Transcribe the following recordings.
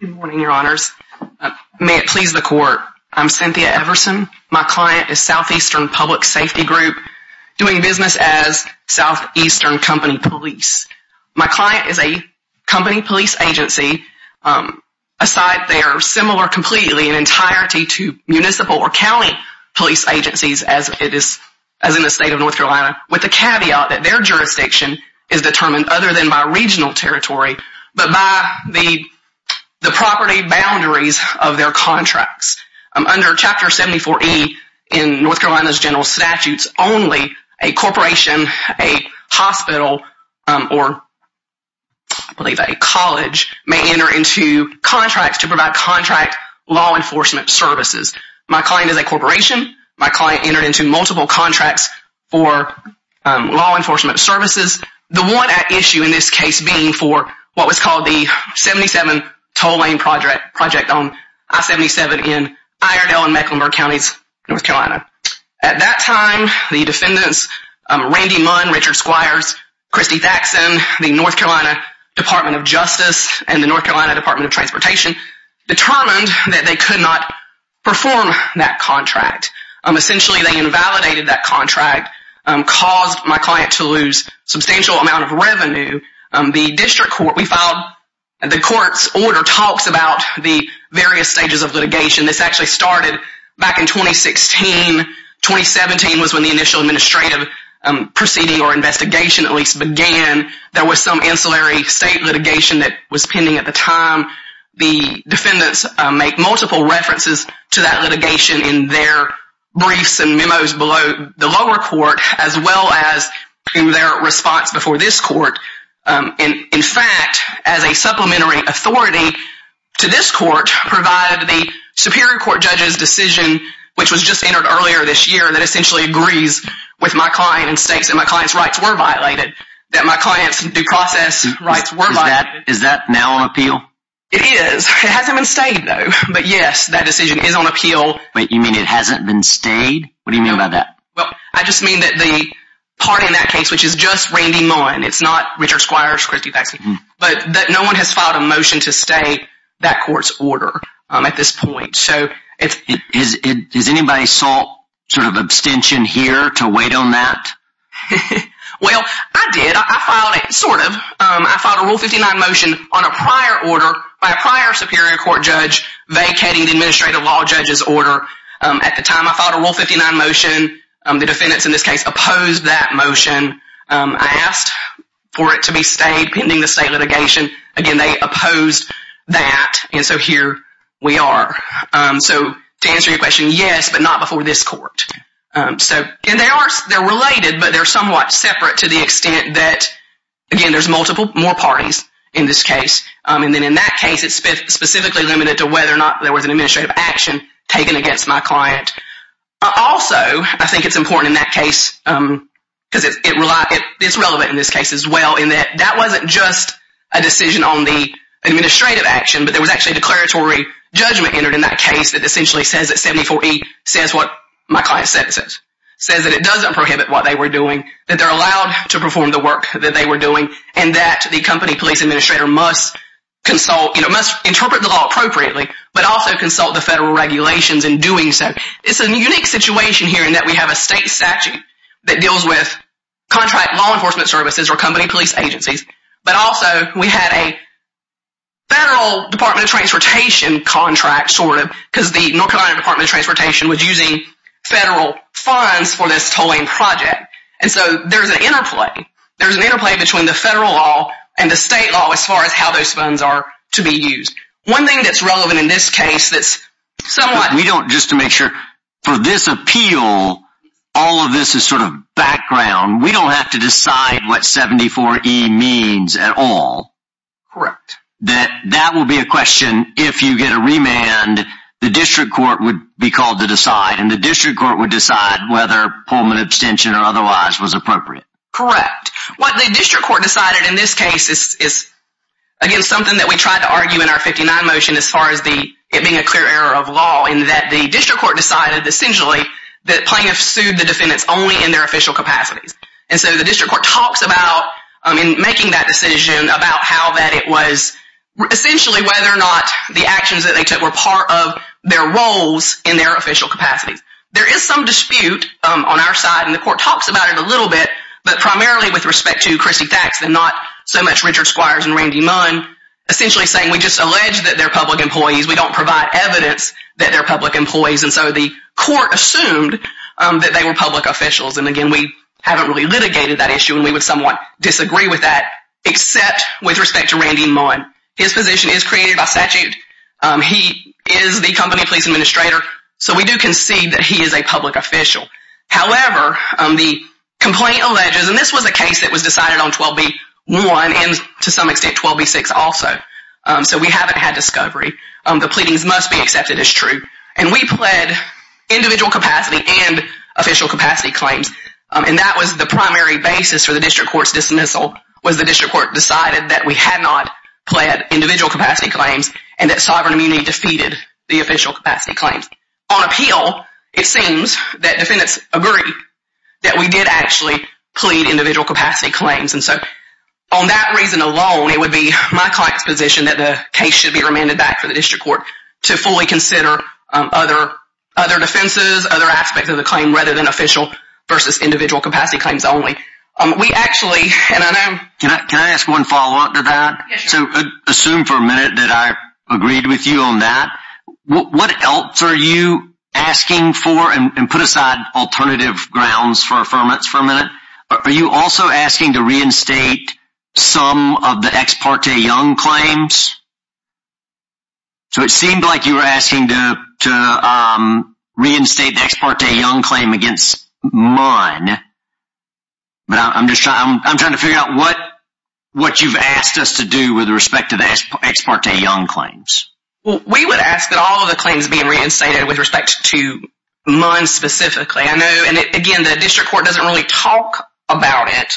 Good morning, Your Honors. May it please the Court, I'm Cynthia Everson. My client is Southeastern Public Safety Group, doing business as Southeastern Company Police. My client is a company police agency, a site there similar completely in entirety to municipal or county police agencies, as in the state of North Carolina, with the caveat that their jurisdiction is determined other than by regional territory, but by the property boundaries of their contracts. Under Chapter 74E in North Carolina's general statutes, only a corporation, a hospital, or I believe a college may enter into contracts to provide contract law enforcement services. My client is a corporation. My client entered into multiple contracts for law enforcement services. The one at issue in this case being for what was called the 77 toll lane project on I-77 in Iredell and Mecklenburg Counties, North Carolina. At that time, the defendants, Randy Munn, Richard Squires, Kristi Thackson, the North Carolina Department of Justice, and the North Carolina Department of Transportation, determined that they could not perform that contract. Essentially, they invalidated that contract, caused my client to lose substantial amount of revenue. The district court, we filed, the court's order talks about the various stages of litigation. This actually started back in 2016. 2017 was when the initial administrative proceeding or investigation at least began. There was some ancillary state litigation that was pending at the time. The defendants make multiple references to that litigation in their briefs and memos below the lower court, as well as in their response before this court. In fact, as a supplementary authority to this court, provided the superior court judge's decision, which was just entered earlier this year, that essentially agrees with my client and states that my client's rights were violated. That my client's due process rights were violated. Is that now on appeal? It is. It hasn't been stayed though. But yes, that decision is on appeal. Wait, you mean it hasn't been stayed? What do you mean by that? Well, I just mean that the party in that case, which is just Randy Munn, it's not Richard Squires, Kristi Thackson, but no one has filed a motion to stay that court's order at this point. Has anybody sought sort of abstention here to wait on that? Well, I did. I filed it, sort of. I filed a Rule 59 motion on a prior order by a prior superior court judge vacating the administrative law judge's order. At the time I filed a Rule 59 motion, the defendants in this case opposed that motion. I asked for it to be stayed pending the state litigation. Again, they opposed that. And so here we are. So to answer your question, yes, but not before this court. And they're related, but they're somewhat separate to the extent that, again, there's multiple more parties in this case. And then in that case, it's specifically limited to whether or not there was an administrative action taken against my client. Also, I think it's important in that case, because it's relevant in this case as well, in that that wasn't just a decision on the administrative action, but there was actually a declaratory judgment entered in that case that essentially says that 74E says what my client said it says. It says that it doesn't prohibit what they were doing, that they're allowed to perform the work that they were doing, and that the company police administrator must consult, must interpret the law appropriately, but also consult the federal regulations in doing so. It's a unique situation here in that we have a state statute that deals with contract law enforcement services or company police agencies. But also, we had a federal Department of Transportation contract, sort of, because the North Carolina Department of Transportation was using federal funds for this tolling project. And so there's an interplay. There's an interplay between the federal law and the state law as far as how those funds are to be used. One thing that's relevant in this case that's somewhat— We don't, just to make sure, for this appeal, all of this is sort of background. We don't have to decide what 74E means at all. Correct. That that will be a question, if you get a remand, the district court would be called to decide, and the district court would decide whether Pullman abstention or otherwise was appropriate. Correct. What the district court decided in this case is, again, something that we tried to argue in our 59 motion as far as it being a clear error of law, in that the district court decided, essentially, that plaintiffs sued the defendants only in their official capacities. And so the district court talks about, in making that decision, about how that it was—essentially whether or not the actions that they took were part of their roles in their official capacities. There is some dispute on our side, and the court talks about it a little bit, but primarily with respect to Christy Thax and not so much Richard Squires and Randy Munn, essentially saying we just allege that they're public employees. We don't provide evidence that they're public employees. And so the court assumed that they were public officials. And, again, we haven't really litigated that issue, and we would somewhat disagree with that, except with respect to Randy Munn. His position is created by statute. He is the company police administrator, so we do concede that he is a public official. However, the complaint alleges—and this was a case that was decided on 12b-1 and, to some extent, 12b-6 also, so we haven't had discovery. The pleadings must be accepted as true. And we pled individual capacity and official capacity claims, and that was the primary basis for the district court's dismissal, was the district court decided that we had not pled individual capacity claims and that sovereign immunity defeated the official capacity claims. On appeal, it seems that defendants agree that we did actually plead individual capacity claims. And so on that reason alone, it would be my client's position that the case should be remanded back to the district court to fully consider other defenses, other aspects of the claim, rather than official versus individual capacity claims only. We actually—and I know— Can I ask one follow-up to that? Assume for a minute that I agreed with you on that. What else are you asking for? And put aside alternative grounds for affirmance for a minute. Are you also asking to reinstate some of the Ex parte Young claims? So it seemed like you were asking to reinstate the Ex parte Young claim against Munn, but I'm trying to figure out what you've asked us to do with respect to the Ex parte Young claims. Well, we would ask that all of the claims be reinstated with respect to Munn specifically. I know—and, again, the district court doesn't really talk about it.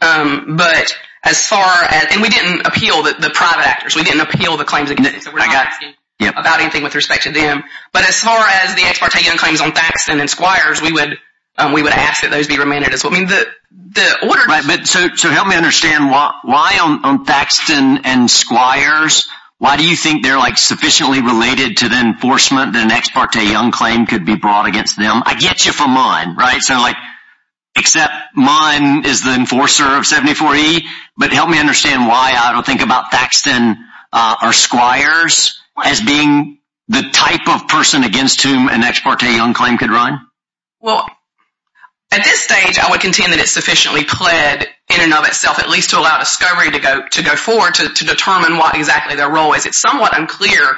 But as far as—and we didn't appeal the private actors. We didn't appeal the claims against them. So we're not asking about anything with respect to them. But as far as the Ex parte Young claims on Thaxton and Squires, we would ask that those be remanded. So, I mean, the order— Right, but so help me understand. Why on Thaxton and Squires? Why do you think they're, like, sufficiently related to the enforcement that an Ex parte Young claim could be brought against them? I get you for Munn, right? So, like, except Munn is the enforcer of 74E. But help me understand why I don't think about Thaxton or Squires as being the type of person against whom an Ex parte Young claim could run. Well, at this stage, I would contend that it's sufficiently pled in and of itself, at least to allow discovery to go forward to determine what exactly their role is. It's somewhat unclear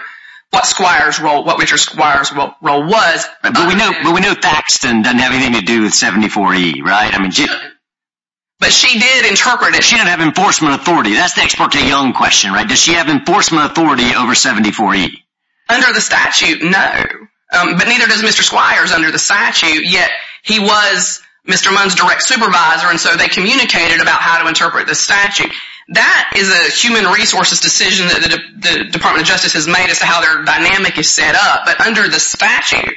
what Squire's role—what Richard Squire's role was. But we know Thaxton doesn't have anything to do with 74E, right? But she did interpret it. She didn't have enforcement authority. That's the Ex parte Young question, right? Does she have enforcement authority over 74E? Under the statute, no. But neither does Mr. Squires under the statute. Yet he was Mr. Munn's direct supervisor, and so they communicated about how to interpret the statute. That is a human resources decision that the Department of Justice has made as to how their dynamic is set up. But under the statute,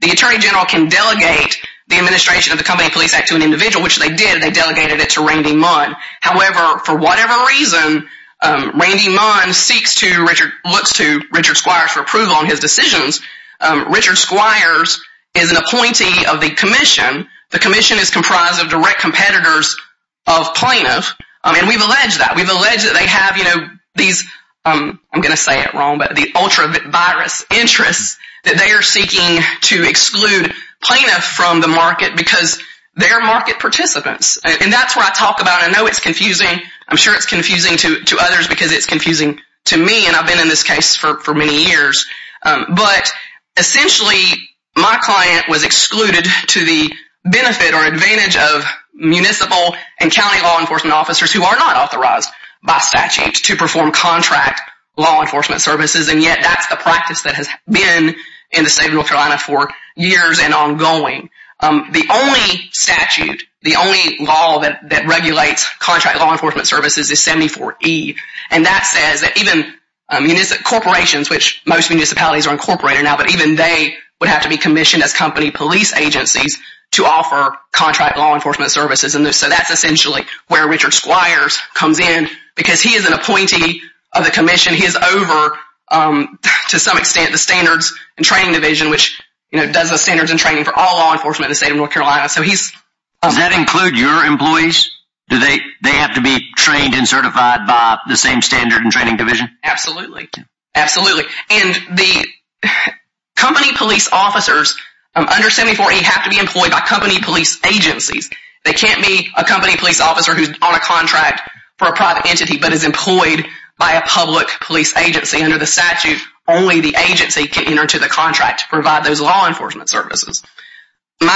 the attorney general can delegate the administration of the Company Police Act to an individual, which they did. They delegated it to Randy Munn. However, for whatever reason, Randy Munn seeks to—looks to Richard Squires for approval on his decisions. Richard Squires is an appointee of the commission. The commission is comprised of direct competitors of plaintiffs, and we've alleged that. We've alleged that they have, you know, these—I'm going to say it wrong, but the ultra-virus interests that they are seeking to exclude plaintiffs from the market because they're market participants. And that's what I talk about. I know it's confusing. I'm sure it's confusing to others because it's confusing to me, and I've been in this case for many years. But essentially, my client was excluded to the benefit or advantage of municipal and county law enforcement officers who are not authorized by statute to perform contract law enforcement services, and yet that's the practice that has been in the state of North Carolina for years and ongoing. The only statute, the only law that regulates contract law enforcement services is 74E. And that says that even corporations, which most municipalities are incorporated now, but even they would have to be commissioned as company police agencies to offer contract law enforcement services. And so that's essentially where Richard Squires comes in because he is an appointee of the commission. He is over, to some extent, the standards and training division, which does the standards and training for all law enforcement in the state of North Carolina. So he's— Does that include your employees? Do they have to be trained and certified by the same standard and training division? Absolutely. Absolutely. And the company police officers under 74E have to be employed by company police agencies. They can't be a company police officer who's on a contract for a private entity but is employed by a public police agency. Under the statute, only the agency can enter into the contract to provide those law enforcement services. But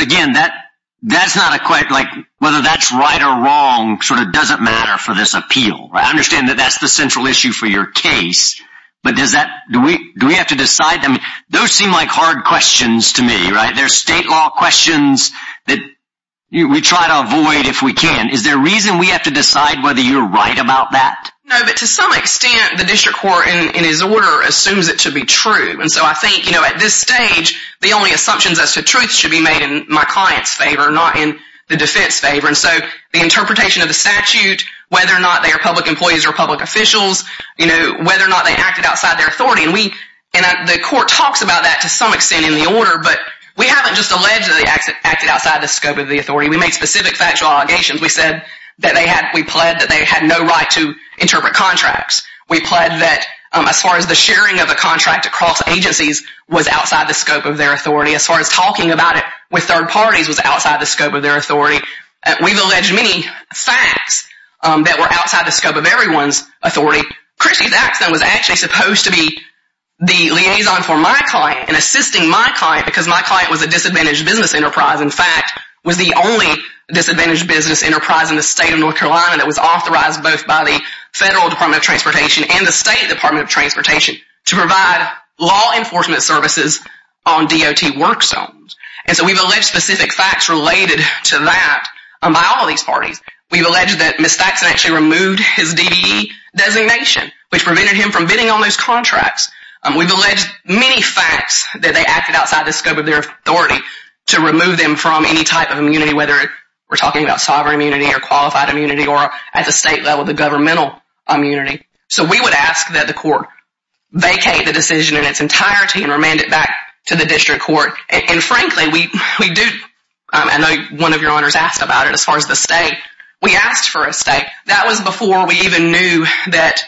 again, that's not a—whether that's right or wrong sort of doesn't matter for this appeal. I understand that that's the central issue for your case, but does that—do we have to decide? Those seem like hard questions to me, right? They're state law questions that we try to avoid if we can. Is there a reason we have to decide whether you're right about that? No, but to some extent, the district court in his order assumes it to be true. And so I think, you know, at this stage, the only assumptions as to truth should be made in my client's favor, not in the defense favor. And so the interpretation of the statute, whether or not they are public employees or public officials, you know, whether or not they acted outside their authority, and we—and the court talks about that to some extent in the order, but we haven't just allegedly acted outside the scope of the authority. We made specific factual allegations. We said that they had—we pled that they had no right to interpret contracts. We pled that, as far as the sharing of a contract across agencies, was outside the scope of their authority. As far as talking about it with third parties was outside the scope of their authority. We've alleged many facts that were outside the scope of everyone's authority. Christy's accident was actually supposed to be the liaison for my client and assisting my client because my client was a disadvantaged business enterprise, in fact, was the only disadvantaged business enterprise in the state of North Carolina that was authorized both by the Federal Department of Transportation and the State Department of Transportation to provide law enforcement services on DOT work zones. And so we've alleged specific facts related to that by all of these parties. We've alleged that Ms. Thackson actually removed his DBE designation, which prevented him from bidding on those contracts. We've alleged many facts that they acted outside the scope of their authority to remove them from any type of immunity, whether we're talking about sovereign immunity or qualified immunity or at the state level, the governmental immunity. So we would ask that the court vacate the decision in its entirety and remand it back to the district court. And frankly, we do, I know one of your honors asked about it as far as the state. We asked for a stay. That was before we even knew that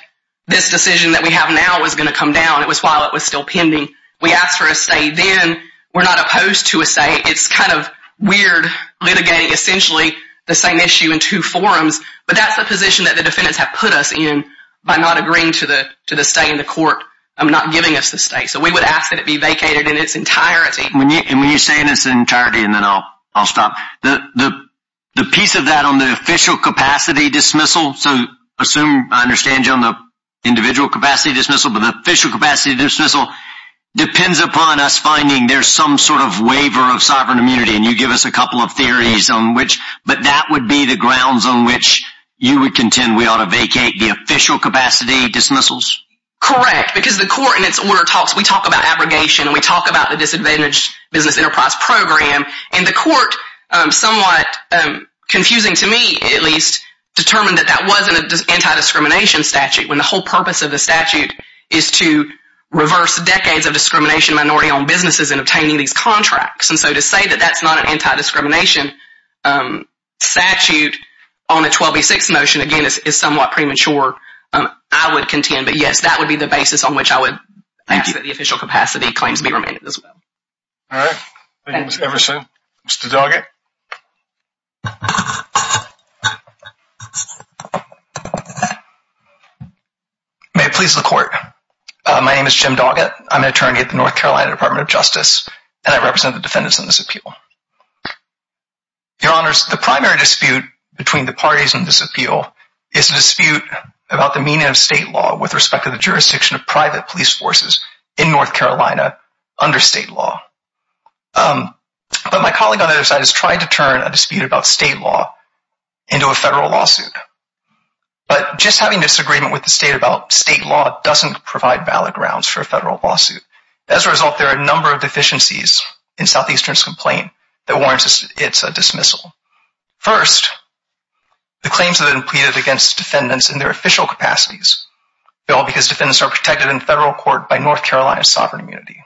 this decision that we have now was going to come down. It was while it was still pending. We asked for a stay then. We're not opposed to a stay. It's kind of weird litigating essentially the same issue in two forums, but that's the position that the defendants have put us in by not agreeing to the stay in the court, not giving us the stay. So we would ask that it be vacated in its entirety. And when you say in its entirety, and then I'll stop, the piece of that on the official capacity dismissal, so assume I understand you on the individual capacity dismissal, but the official capacity dismissal depends upon us finding there's some sort of waiver of sovereign immunity, and you give us a couple of theories on which, but that would be the grounds on which you would contend we ought to vacate the official capacity dismissals? Correct, because the court in its order talks, we talk about abrogation, and we talk about the disadvantaged business enterprise program, and the court, somewhat confusing to me at least, determined that that wasn't an anti-discrimination statute when the whole purpose of the statute is to reverse decades of discrimination in minority-owned businesses in obtaining these contracts. And so to say that that's not an anti-discrimination statute on a 12B6 motion, again, is somewhat premature, I would contend. But yes, that would be the basis on which I would ask that the official capacity claims be remanded as well. All right. Thank you, Ms. Everson. Mr. Doggett? May it please the court. My name is Jim Doggett. I'm an attorney at the North Carolina Department of Justice, and I represent the defendants in this appeal. Your Honors, the primary dispute between the parties in this appeal is a dispute about the meaning of state law with respect to the jurisdiction of private police forces in North Carolina under state law. But my colleague on the other side has tried to turn a dispute about state law into a federal lawsuit. But just having disagreement with the state about state law doesn't provide valid grounds for a federal lawsuit. As a result, there are a number of deficiencies in Southeastern's complaint that warrants its dismissal. First, the claims that have been pleaded against defendants in their official capacities fail because defendants are protected in federal court by North Carolina's sovereign immunity.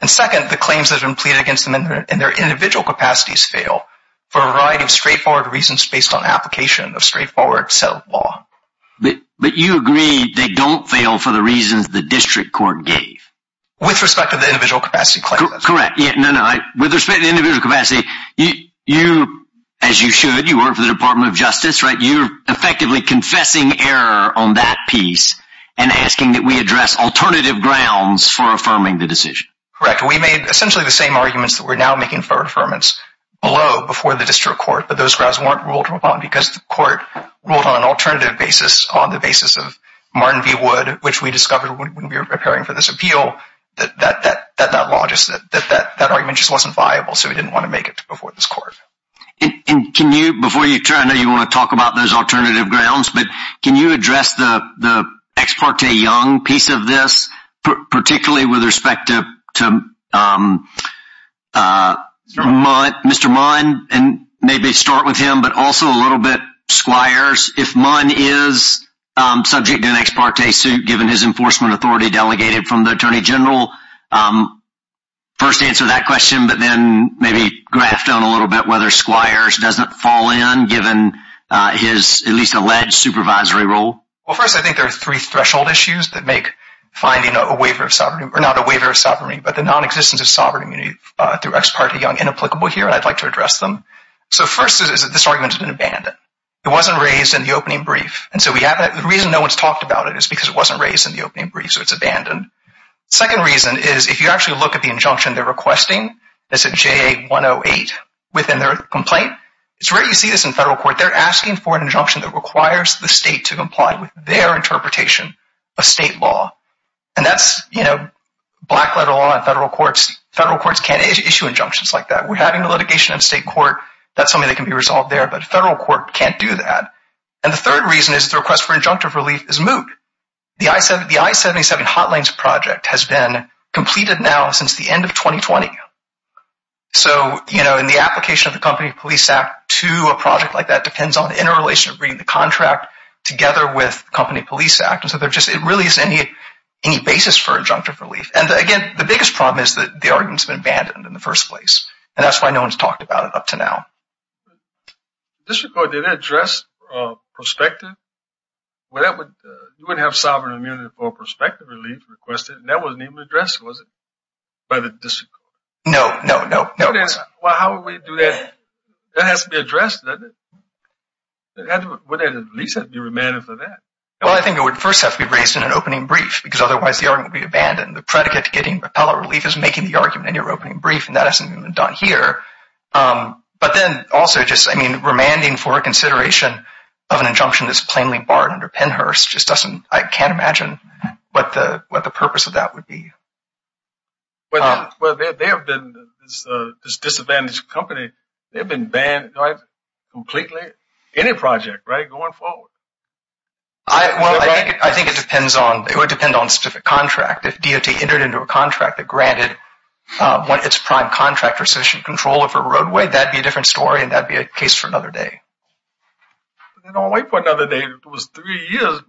And second, the claims that have been pleaded against them in their individual capacities fail for a variety of straightforward reasons based on application of straightforward, settled law. But you agree they don't fail for the reasons the district court gave? With respect to the individual capacity claims. Correct. No, no. With respect to the individual capacity, you, as you should, you work for the Department of Justice, right? You're effectively confessing error on that piece and asking that we address alternative grounds for affirming the decision. Correct. We made essentially the same arguments that we're now making for affirmance below before the district court, but those grounds weren't ruled upon because the court ruled on an alternative basis on the basis of Martin v. Wood, which we discovered when we were preparing for this appeal, that that argument just wasn't viable, so we didn't want to make it before this court. And can you, before you turn, I know you want to talk about those alternative grounds, but can you address the ex parte Young piece of this, particularly with respect to Mr. Mund, and maybe start with him, but also a little bit Squires? If Mund is subject to an ex parte suit, given his enforcement authority delegated from the Attorney General, first answer that question, but then maybe graft on a little bit whether Squires doesn't fall in, given his at least alleged supervisory role? Well, first, I think there are three threshold issues that make finding a waiver of sovereignty, or not a waiver of sovereignty, but the nonexistence of sovereignty through ex parte Young inapplicable here, and I'd like to address them. So first is that this argument has been abandoned. It wasn't raised in the opening brief, and so the reason no one's talked about it is because it wasn't raised in the opening brief, so it's abandoned. Second reason is if you actually look at the injunction they're requesting, that's at JA 108 within their complaint, it's rare you see this in federal court. They're asking for an injunction that requires the state to comply with their interpretation of state law, and that's black letter law in federal courts. Federal courts can't issue injunctions like that. We're having a litigation in state court. That's something that can be resolved there, but a federal court can't do that, and the third reason is the request for injunctive relief is moot. The I-77 Hot Lanes project has been completed now since the end of 2020, so in the application of the Company Police Act to a project like that depends on interrelation of reading the contract together with Company Police Act, and so it really is any basis for injunctive relief, and, again, the biggest problem is that the argument's been abandoned in the first place, and that's why no one's talked about it up to now. The district court didn't address prospective? You wouldn't have sovereign immunity for prospective relief requested, and that wasn't even addressed, was it, by the district court? No, no, no. Well, how would we do that? That has to be addressed, doesn't it? Wouldn't at least be remanded for that? Well, I think it would first have to be raised in an opening brief, because otherwise the argument would be abandoned. The predicate to getting repellant relief is making the argument in your opening brief, and that hasn't even been done here. But then also just, I mean, remanding for consideration of an injunction that's plainly barred under Pennhurst just doesn't – I can't imagine what the purpose of that would be. Well, there have been – this disadvantaged company, they've been banned completely, any project, right, going forward. Well, I think it depends on – it would depend on specific contract. If DOT entered into a contract that granted its prime contractor sufficient control over a roadway, that would be a different story, and that would be a case for another day. They don't wait for another day. It was three years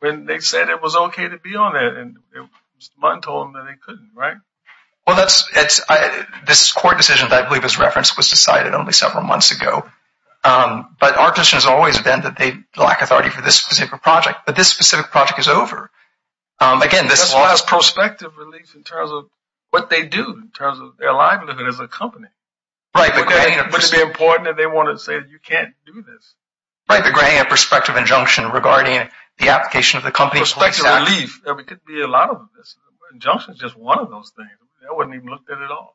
when they said it was okay to be on there, and Mr. Mundt told them that they couldn't, right? Well, that's – this court decision that I believe is referenced was decided only several months ago. But our position has always been that they lack authority for this specific project. But this specific project is over. Again, this – That's why it's prospective relief in terms of what they do, in terms of their livelihood as a company. Right, but – Wouldn't it be important if they wanted to say that you can't do this? Right, but granting a prospective injunction regarding the application of the company's police – Prospective relief. There could be a lot of this. Injunction is just one of those things. That wasn't even looked at at all.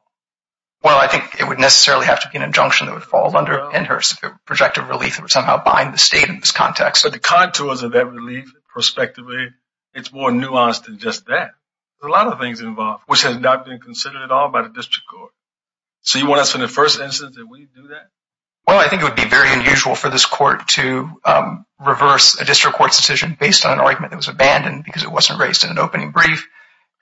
Well, I think it would necessarily have to be an injunction that would fall under Pennhurst. Projective relief would somehow bind the state in this context. But the contours of that relief, prospectively, it's more nuanced than just that. There's a lot of things involved, which has not been considered at all by the district court. So you want us, in the first instance, that we do that? Well, I think it would be very unusual for this court to reverse a district court's decision based on an argument that was abandoned because it wasn't raised in an opening brief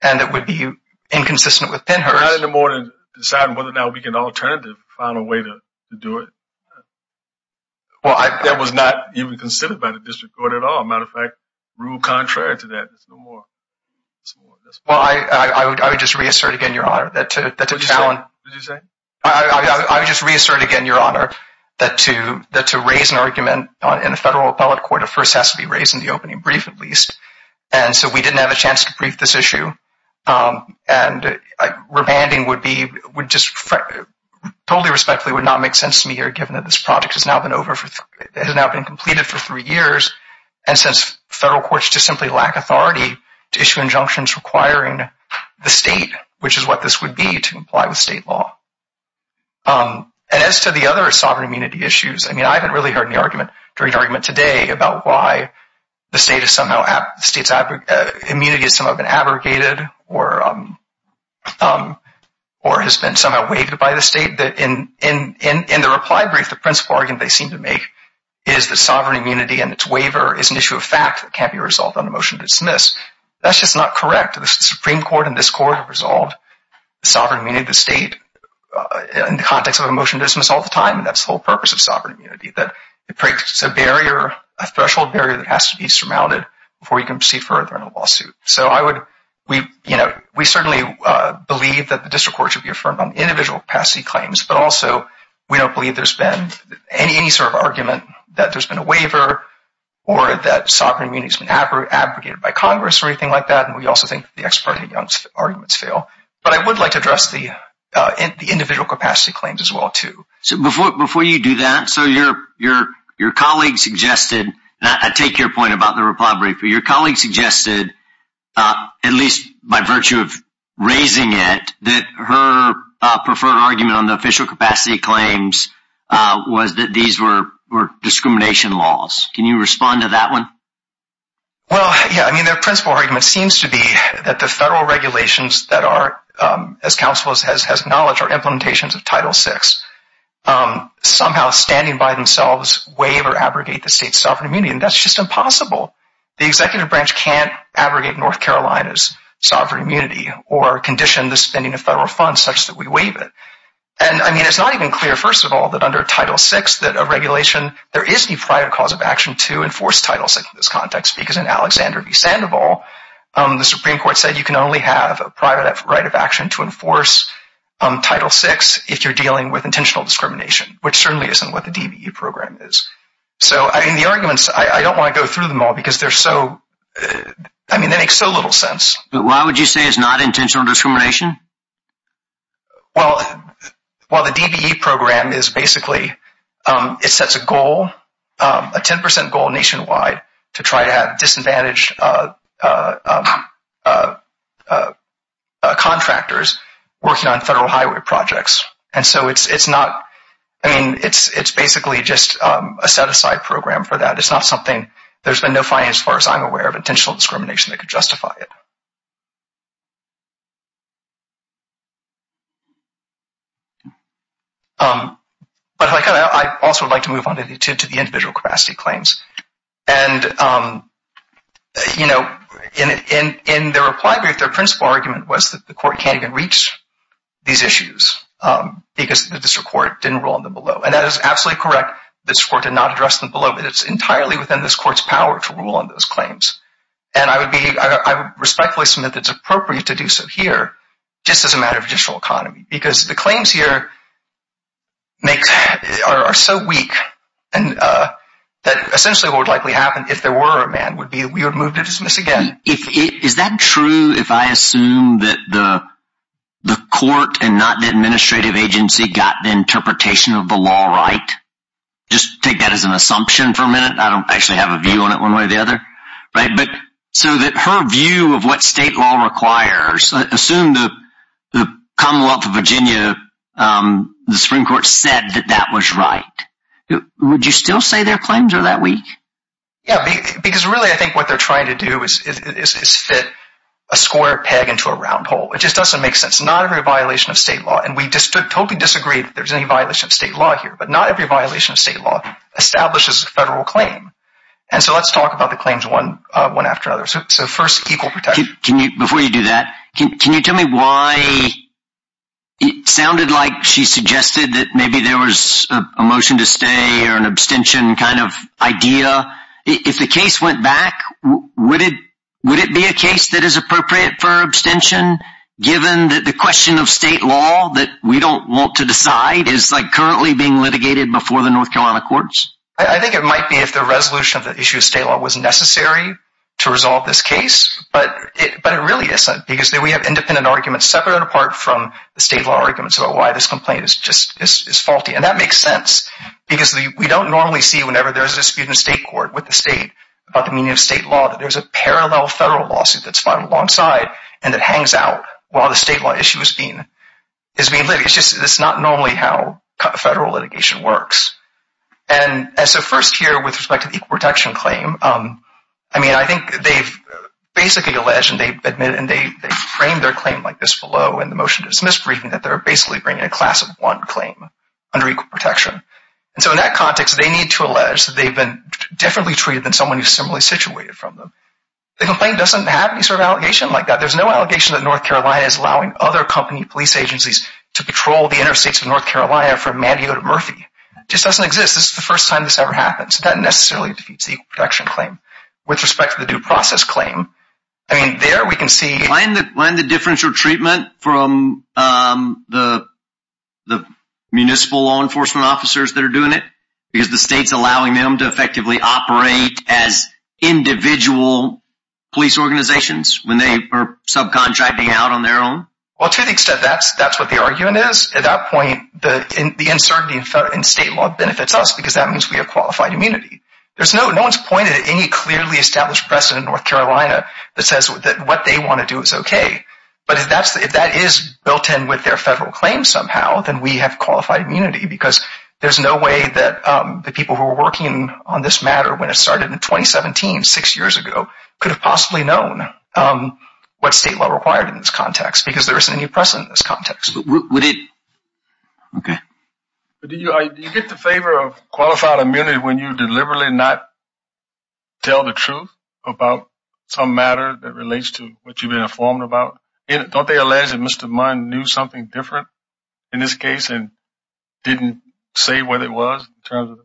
and that would be inconsistent with Pennhurst. We're not in the mood to decide whether or not we can alternatively find a way to do it. That was not even considered by the district court at all. As a matter of fact, rule contrary to that is no more. Well, I would just reassert again, Your Honor, that to challenge – What did you say? I would just reassert again, Your Honor, that to raise an argument in a federal appellate court, it first has to be raised in the opening brief at least. And so we didn't have a chance to brief this issue. And rebanding would just totally respectfully would not make sense to me here given that this project has now been completed for three years and since federal courts just simply lack authority to issue injunctions requiring the state, which is what this would be, to comply with state law. And as to the other sovereign immunity issues, I mean, I haven't really heard any argument today about why the state's immunity has somehow been abrogated or has been somehow waived by the state. In the reply brief, the principal argument they seem to make is that sovereign immunity and its waiver is an issue of fact that can't be resolved on a motion to dismiss. That's just not correct. The Supreme Court and this Court have resolved sovereign immunity of the state in the context of a motion to dismiss all the time, and that's the whole purpose of sovereign immunity, that it breaks a barrier, a threshold barrier that has to be surmounted before you can proceed further in a lawsuit. So we certainly believe that the district court should be affirmed on individual capacity claims, but also we don't believe there's been any sort of argument that there's been a waiver or that sovereign immunity has been abrogated by Congress or anything like that, and we also think the ex parte arguments fail. But I would like to address the individual capacity claims as well too. Before you do that, so your colleague suggested, and I take your point about the reply brief, but your colleague suggested, at least by virtue of raising it, that her preferred argument on the official capacity claims was that these were discrimination laws. Can you respond to that one? Well, yeah. I mean, their principal argument seems to be that the federal regulations that are, as counsel has acknowledged, are implementations of Title VI, somehow standing by themselves waive or abrogate the state's sovereign immunity, and that's just impossible. The executive branch can't abrogate North Carolina's sovereign immunity or condition the spending of federal funds such that we waive it. And, I mean, it's not even clear, first of all, that under Title VI, that a regulation, there is no private cause of action to enforce Title VI in this context because in Alexander v. Sandoval, the Supreme Court said you can only have a private right of action to enforce Title VI if you're dealing with intentional discrimination, which certainly isn't what the DBE program is. So, I mean, the arguments, I don't want to go through them all because they're so, I mean, they make so little sense. Why would you say it's not intentional discrimination? Well, the DBE program is basically, it sets a goal, a 10% goal nationwide, to try to have disadvantaged contractors working on federal highway projects. And so it's not, I mean, it's basically just a set-aside program for that. It's not something, there's been no finance, as far as I'm aware, of intentional discrimination that could justify it. But I also would like to move on to the individual capacity claims. And, you know, in the reply brief, their principal argument was that the court can't even reach these issues because the district court didn't rule on them below. And that is absolutely correct. The district court did not address them below, but it's entirely within this court's power to rule on those claims. And I would respectfully submit that it's appropriate to do so here, just as a matter of judicial economy, because the claims here are so weak that essentially what would likely happen if there were a ban would be that we would move to dismiss again. Is that true if I assume that the court and not the administrative agency got the interpretation of the law right? Just take that as an assumption for a minute. I don't actually have a view on it one way or the other. But so that her view of what state law requires, assume the Commonwealth of Virginia, the Supreme Court said that that was right. Would you still say their claims are that weak? Yeah, because really I think what they're trying to do is fit a square peg into a round hole. It just doesn't make sense. Not every violation of state law, and we totally disagree that there's any violation of state law here, but not every violation of state law establishes a federal claim. And so let's talk about the claims one after another. So first, equal protection. Before you do that, can you tell me why it sounded like she suggested that maybe there was a motion to stay or an abstention kind of idea? If the case went back, would it be a case that is appropriate for abstention, given that the question of state law that we don't want to decide is currently being litigated before the North Carolina courts? I think it might be if the resolution of the issue of state law was necessary to resolve this case, but it really isn't because we have independent arguments separate and apart from the state law arguments about why this complaint is faulty. And that makes sense because we don't normally see whenever there's a dispute in state court with the state about the meaning of state law that there's a parallel federal lawsuit that's filed alongside and that hangs out while the state law issue is being litigated. It's just not normally how federal litigation works. And so first here with respect to the equal protection claim, I mean, I think they've basically alleged and they've admitted and they've framed their claim like this below in the motion to dismiss briefing that they're basically bringing a class of one claim under equal protection. And so in that context, they need to allege that they've been differently treated than someone who's similarly situated from them. The complaint doesn't have any sort of allegation like that. There's no allegation that North Carolina is allowing other company police agencies to patrol the interstates of North Carolina from Manteo to Murphy. It just doesn't exist. This is the first time this ever happened. So that necessarily defeats the equal protection claim. With respect to the due process claim, I mean, there we can see... Why isn't the differential treatment from the municipal law enforcement officers that are doing it? Because the state's allowing them to effectively operate as individual police organizations when they are subcontracting out on their own? Well, to the extent that's what the argument is, at that point, the uncertainty in state law benefits us because that means we have qualified immunity. No one's pointed at any clearly established precedent in North Carolina that says that what they want to do is okay. But if that is built in with their federal claim somehow, then we have qualified immunity because there's no way that the people who were working on this matter when it started in 2017, six years ago, could have possibly known what state law required in this context because there isn't any precedent in this context. Do you get the favor of qualified immunity when you deliberately not tell the truth about some matter that relates to what you've been informed about? Don't they allege that Mr. Munn knew something different in this case and didn't say what it was in terms of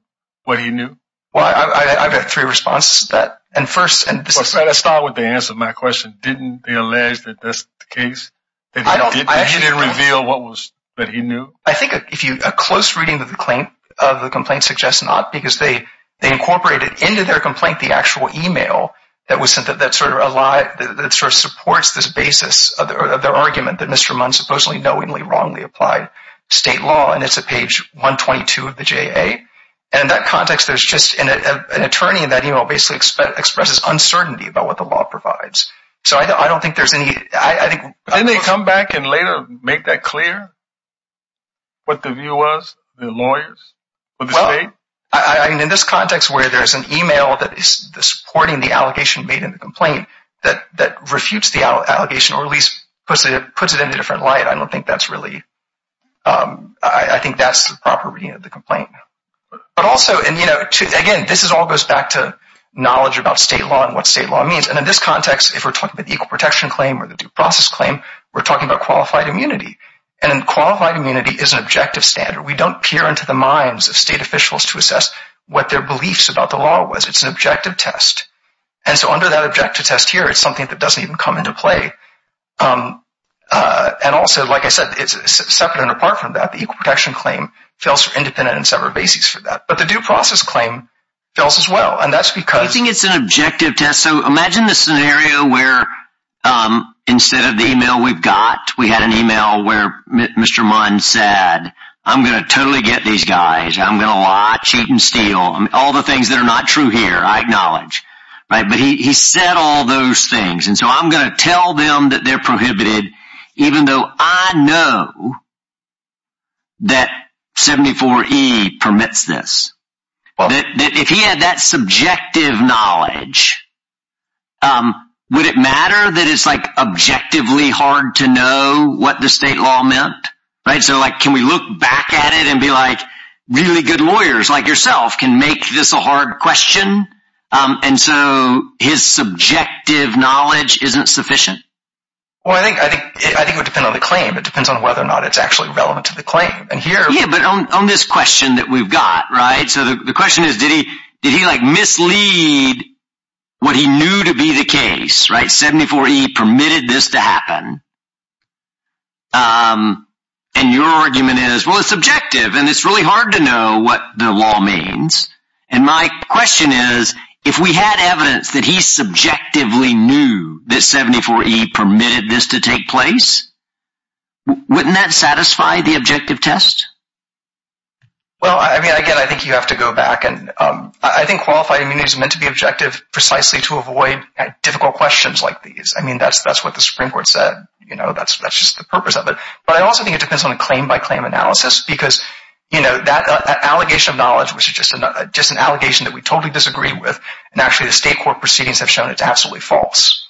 what he knew? Well, I've got three responses to that. Let's start with the answer to my question. Didn't they allege that that's the case? He didn't reveal what he knew? I think a close reading of the complaint suggests not because they incorporated into their complaint the actual email that supports this basis of their argument that Mr. Munn supposedly knowingly, wrongly applied state law, and it's at page 122 of the JA. In that context, an attorney in that email basically expresses uncertainty about what the law provides. Didn't they come back and later make that clear, what the view was, the lawyers, or the state? In this context where there's an email supporting the allegation made in the complaint that refutes the allegation or at least puts it in a different light, I think that's the proper reading of the complaint. Again, this all goes back to knowledge about state law and what state law means. In this context, if we're talking about the Equal Protection Claim or the Due Process Claim, we're talking about qualified immunity. Qualified immunity is an objective standard. We don't peer into the minds of state officials to assess what their beliefs about the law was. It's an objective test. Under that objective test here, it's something that doesn't even come into play. Also, like I said, it's separate and apart from that. The Equal Protection Claim fails for independent and separate basics for that. But the Due Process Claim fails as well. I think it's an objective test. Imagine the scenario where instead of the email we've got, we had an email where Mr. Munn said, I'm going to totally get these guys. I'm going to lie, cheat, and steal, all the things that are not true here, I acknowledge. But he said all those things. I'm going to tell them that they're prohibited, even though I know that 74E permits this. If he had that subjective knowledge, would it matter that it's objectively hard to know what the state law meant? Can we look back at it and be like, really good lawyers like yourself can make this a hard question and so his subjective knowledge isn't sufficient? Well, I think it would depend on the claim. It depends on whether or not it's actually relevant to the claim. Yeah, but on this question that we've got, the question is, did he mislead what he knew to be the case? 74E permitted this to happen. And your argument is, well, it's subjective and it's really hard to know what the law means. And my question is, if we had evidence that he subjectively knew that 74E permitted this to take place, wouldn't that satisfy the objective test? Well, again, I think you have to go back. I think qualified immunity is meant to be objective precisely to avoid difficult questions like these. I mean, that's what the Supreme Court said. That's just the purpose of it. But I also think it depends on the claim-by-claim analysis because, you know, that allegation of knowledge, which is just an allegation that we totally disagree with, and actually the state court proceedings have shown it's absolutely false.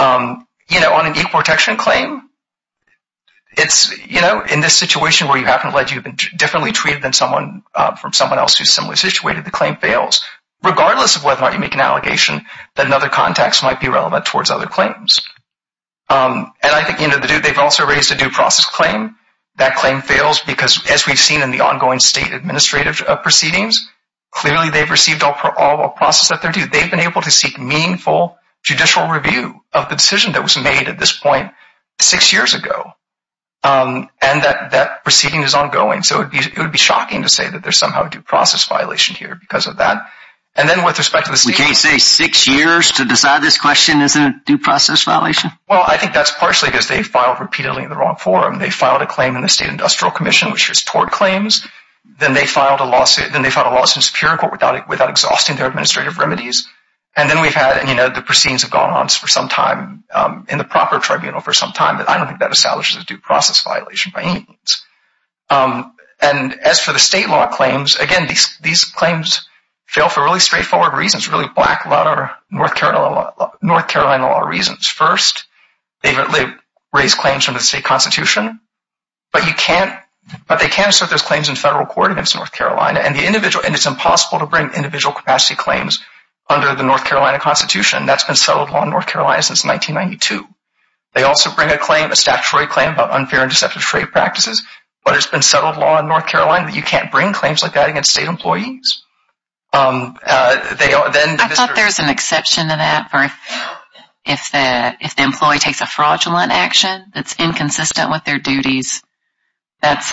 You know, on an equal protection claim, it's, you know, in this situation where you happen to have been differently treated than someone from someone else who's similarly situated, the claim fails, regardless of whether or not you make an allegation that another context might be relevant towards other claims. And I think, you know, they've also raised a due process claim. That claim fails because, as we've seen in the ongoing state administrative proceedings, clearly they've received all the process that they're due. They've been able to seek meaningful judicial review of the decision that was made at this point six years ago. And that proceeding is ongoing. So it would be shocking to say that there's somehow a due process violation here because of that. We can't say six years to decide this question isn't a due process violation? Well, I think that's partially because they filed repeatedly in the wrong forum. They filed a claim in the State Industrial Commission, which was tort claims. Then they filed a lawsuit in the Superior Court without exhausting their administrative remedies. And then we've had, you know, the proceedings have gone on for some time in the proper tribunal for some time. I don't think that establishes a due process violation by any means. And as for the state law claims, again, these claims fail for really straightforward reasons, really black-letter North Carolina law reasons. First, they've raised claims from the state constitution, but they can't assert those claims in federal court against North Carolina. And it's impossible to bring individual capacity claims under the North Carolina Constitution. That's been settled on North Carolina since 1992. They also bring a statutory claim about unfair and deceptive trade practices, but it's been settled law in North Carolina that you can't bring claims like that against state employees. I thought there was an exception to that for if the employee takes a fraudulent action that's inconsistent with their duties. That's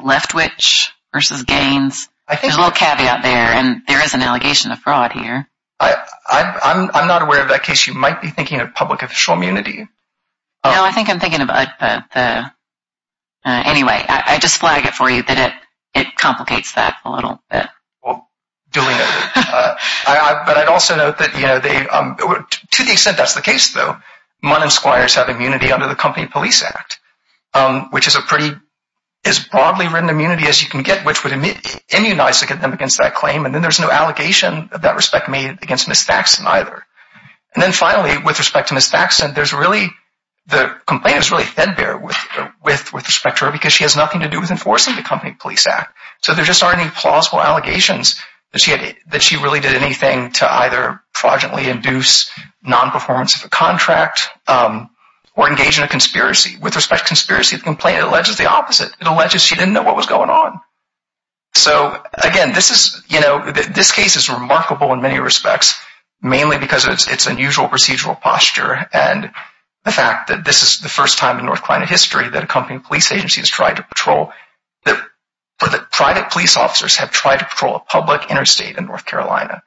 left-witch versus gains. There's a little caveat there, and there is an allegation of fraud here. I'm not aware of that case. You might be thinking of public official immunity. No, I think I'm thinking of the – anyway, I just flag it for you that it complicates that a little bit. Well, duly noted. But I'd also note that, you know, to the extent that's the case, though, MUN and SQUIRES have immunity under the Company Police Act, which is a pretty – as broadly written immunity as you can get, which would immunize them against that claim. And then there's no allegation of that respect made against Ms. Thackston either. And then finally, with respect to Ms. Thackston, there's really – the complaint is really fed there with respect to her because she has nothing to do with enforcing the Company Police Act. So there just aren't any plausible allegations that she really did anything to either fraudulently induce nonperformance of a contract or engage in a conspiracy. With respect to conspiracy, the complaint alleges the opposite. It alleges she didn't know what was going on. So, again, this is – you know, this case is remarkable in many respects, mainly because of its unusual procedural posture and the fact that this is the first time in North Carolina history that a company police agency has tried to patrol – that private police officers have tried to patrol a public interstate in North Carolina.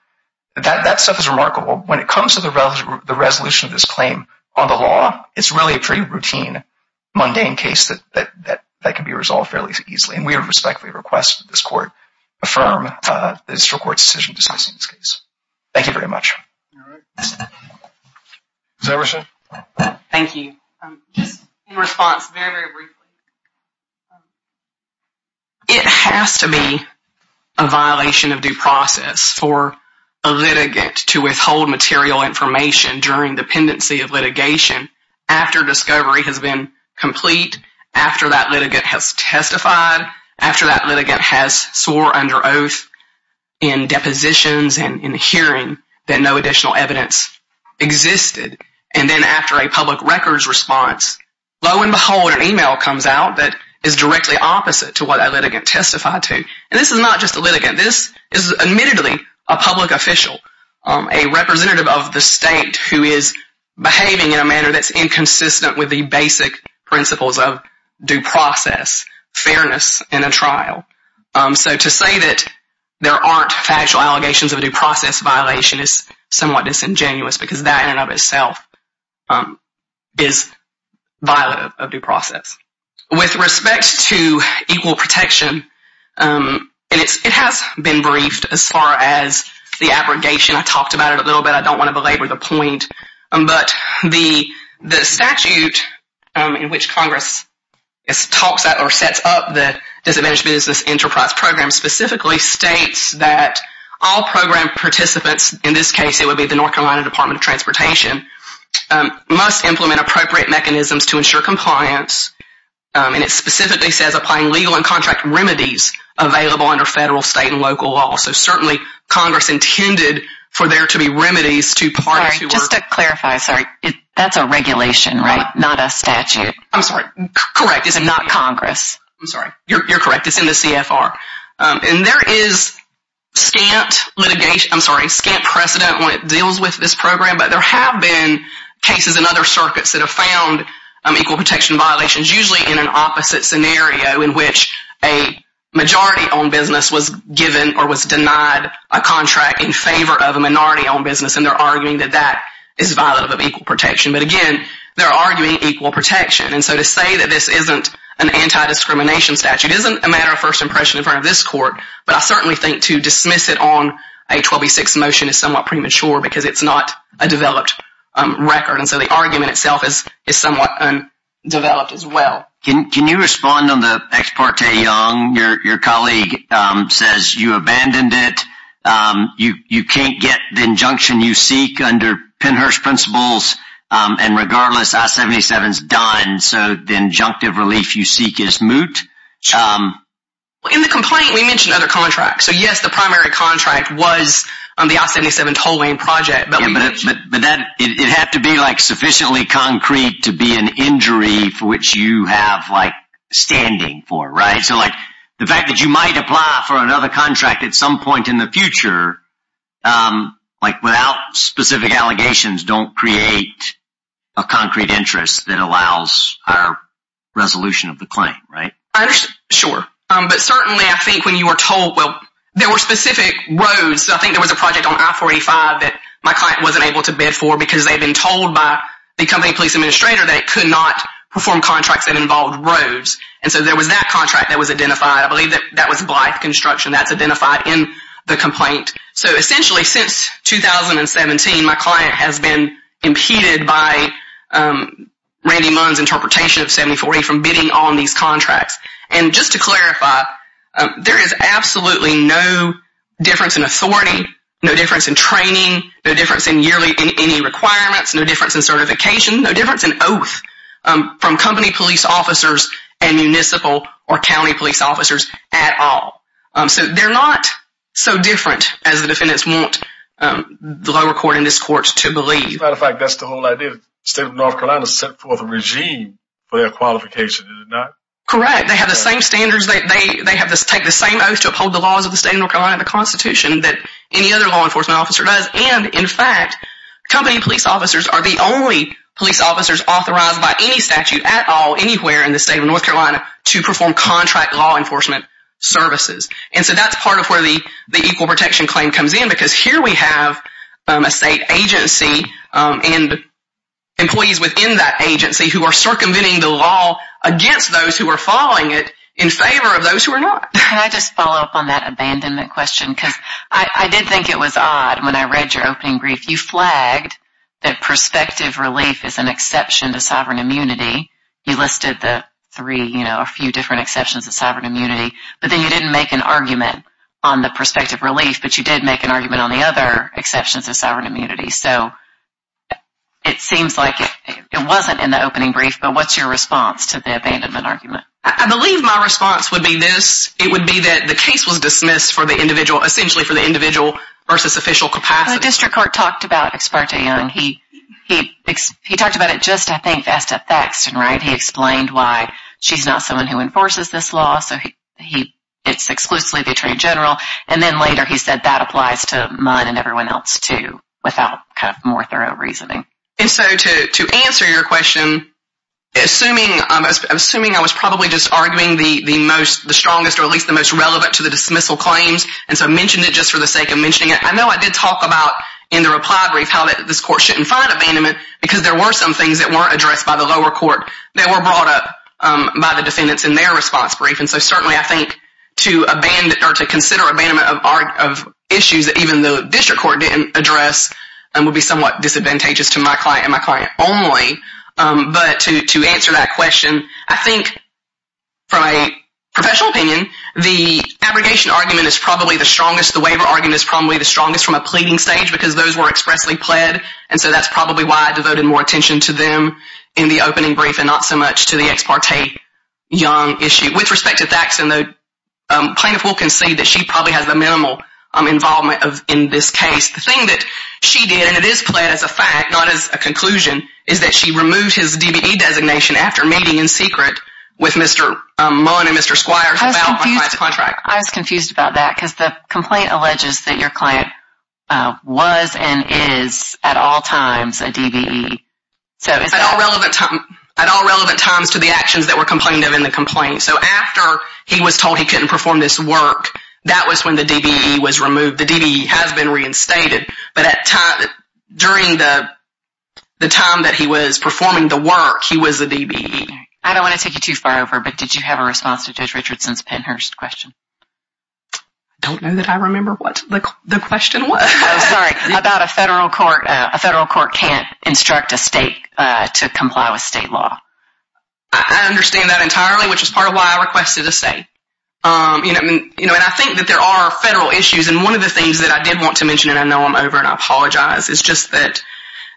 That stuff is remarkable. When it comes to the resolution of this claim on the law, it's really a pretty routine, mundane case that can be resolved fairly easily. And we would respectfully request that this Court affirm the District Court's decision discussing this case. Thank you very much. Ms. Everson? Thank you. Just in response, very, very briefly. It has to be a violation of due process for a litigant to withhold material information during the pendency of litigation after discovery has been complete, after that litigant has testified, after that litigant has swore under oath in depositions and in hearing that no additional evidence existed. And then after a public records response, lo and behold, an email comes out that is directly opposite to what that litigant testified to. This is admittedly a public official, a representative of the state, who is behaving in a manner that's inconsistent with the basic principles of due process, fairness in a trial. So to say that there aren't factual allegations of a due process violation is somewhat disingenuous because that in and of itself is violent of due process. With respect to equal protection, and it has been briefed as far as the abrogation. I talked about it a little bit. I don't want to belabor the point. But the statute in which Congress sets up the Disadvantaged Business Enterprise Program specifically states that all program participants, in this case it would be the North Carolina Department of Transportation, must implement appropriate mechanisms to ensure compliance. And it specifically says applying legal and contract remedies available under federal, state, and local law. So certainly Congress intended for there to be remedies to parties who were Sorry, just to clarify. Sorry. That's a regulation, right, not a statute. I'm sorry. Correct. It's not Congress. I'm sorry. You're correct. It's in the CFR. And there is scant litigation, I'm sorry, scant precedent when it deals with this program. But there have been cases in other circuits that have found equal protection violations, usually in an opposite scenario in which a majority-owned business was given or was denied a contract in favor of a minority-owned business. And they're arguing that that is violative of equal protection. But again, they're arguing equal protection. And so to say that this isn't an anti-discrimination statute isn't a matter of first impression in front of this court. But I certainly think to dismiss it on a 12e6 motion is somewhat premature because it's not a developed record. And so the argument itself is somewhat undeveloped as well. Can you respond on the ex parte, Young? Your colleague says you abandoned it. You can't get the injunction you seek under Pennhurst principles. And regardless, I-77 is done. So the injunctive relief you seek is moot. In the complaint, we mentioned other contracts. So, yes, the primary contract was the I-77 toll lane project. But it had to be sufficiently concrete to be an injury for which you have standing for, right? So the fact that you might apply for another contract at some point in the future without specific allegations don't create a concrete interest that allows higher resolution of the claim, right? Sure. But certainly I think when you were told, well, there were specific roads. So I think there was a project on I-45 that my client wasn't able to bid for because they had been told by the company police administrator that it could not perform contracts that involved roads. And so there was that contract that was identified. I believe that was Blythe Construction that's identified in the complaint. So essentially since 2017, my client has been impeded by Randy Munn's interpretation of 7040 from bidding on these contracts. And just to clarify, there is absolutely no difference in authority, no difference in training, no difference in yearly requirements, no difference in certification, no difference in oath from company police officers and municipal or county police officers at all. So they're not so different as the defendants want the lower court and this court to believe. As a matter of fact, that's the whole idea. The state of North Carolina set forth a regime for their qualification, did it not? Correct. They have the same standards. They take the same oath to uphold the laws of the state of North Carolina and the Constitution that any other law enforcement officer does. And in fact, company police officers are the only police officers authorized by any statute at all, anywhere in the state of North Carolina to perform contract law enforcement services. And so that's part of where the equal protection claim comes in because here we have a state agency and employees within that agency who are circumventing the law against those who are following it in favor of those who are not. Can I just follow up on that abandonment question? Because I did think it was odd when I read your opening brief. You flagged that prospective relief is an exception to sovereign immunity. You listed the three, you know, a few different exceptions to sovereign immunity, but then you didn't make an argument on the prospective relief, but you did make an argument on the other exceptions to sovereign immunity. So it seems like it wasn't in the opening brief, but what's your response to the abandonment argument? I believe my response would be this. It would be that the case was dismissed for the individual, essentially for the individual versus official capacity. The district court talked about Ex parte Young. He talked about it just, I think, as to Thaxton, right? He explained why she's not someone who enforces this law, so it's exclusively the attorney general. And then later he said that applies to Munn and everyone else, too, without kind of more thorough reasoning. And so to answer your question, assuming I was probably just arguing the strongest or at least the most relevant to the dismissal claims, and so I mentioned it just for the sake of mentioning it. I know I did talk about in the reply brief how this court shouldn't find abandonment because there were some things that weren't addressed by the lower court that were brought up by the defendants in their response brief. And so certainly I think to consider abandonment of issues that even the district court didn't address would be somewhat disadvantageous to my client and my client only. But to answer that question, I think from a professional opinion, the abrogation argument is probably the strongest. The waiver argument is probably the strongest from a pleading stage because those were expressly pled. And so that's probably why I devoted more attention to them in the opening brief and not so much to the Ex parte Young issue. With respect to Thaxton, the plaintiff will concede that she probably has the minimal involvement in this case. The thing that she did, and it is pled as a fact, not as a conclusion, is that she removed his DBE designation after meeting in secret with Mr. Munn and Mr. Squires about my client's contract. I was confused about that because the complaint alleges that your client was and is at all times a DBE. At all relevant times to the actions that were complained of in the complaint. So after he was told he couldn't perform this work, that was when the DBE was removed. The DBE has been reinstated, but during the time that he was performing the work, he was a DBE. I don't want to take you too far over, but did you have a response to Judge Richardson's Pennhurst question? I don't know that I remember what the question was. Sorry, about a federal court. A federal court can't instruct a state to comply with state law. I understand that entirely, which is part of why I requested a state. And I think that there are federal issues, and one of the things that I did want to mention, and I know I'm over and I apologize, is just that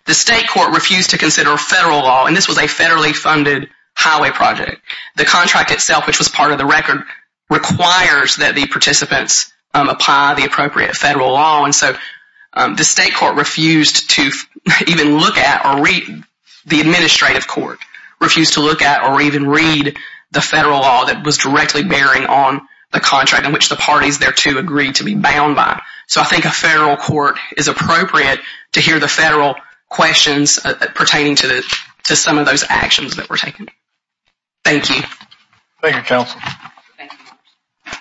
the state court refused to consider federal law, and this was a federally funded highway project. The contract itself, which was part of the record, requires that the participants apply the appropriate federal law, and so the state court refused to even look at or read the administrative court, refused to look at or even read the federal law that was directly bearing on the contract in which the parties thereto agreed to be bound by. So I think a federal court is appropriate to hear the federal questions pertaining to some of those actions that were taken. Thank you, counsel. Thank you.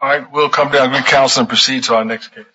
All right, we'll come down here, counsel, and proceed to our next case.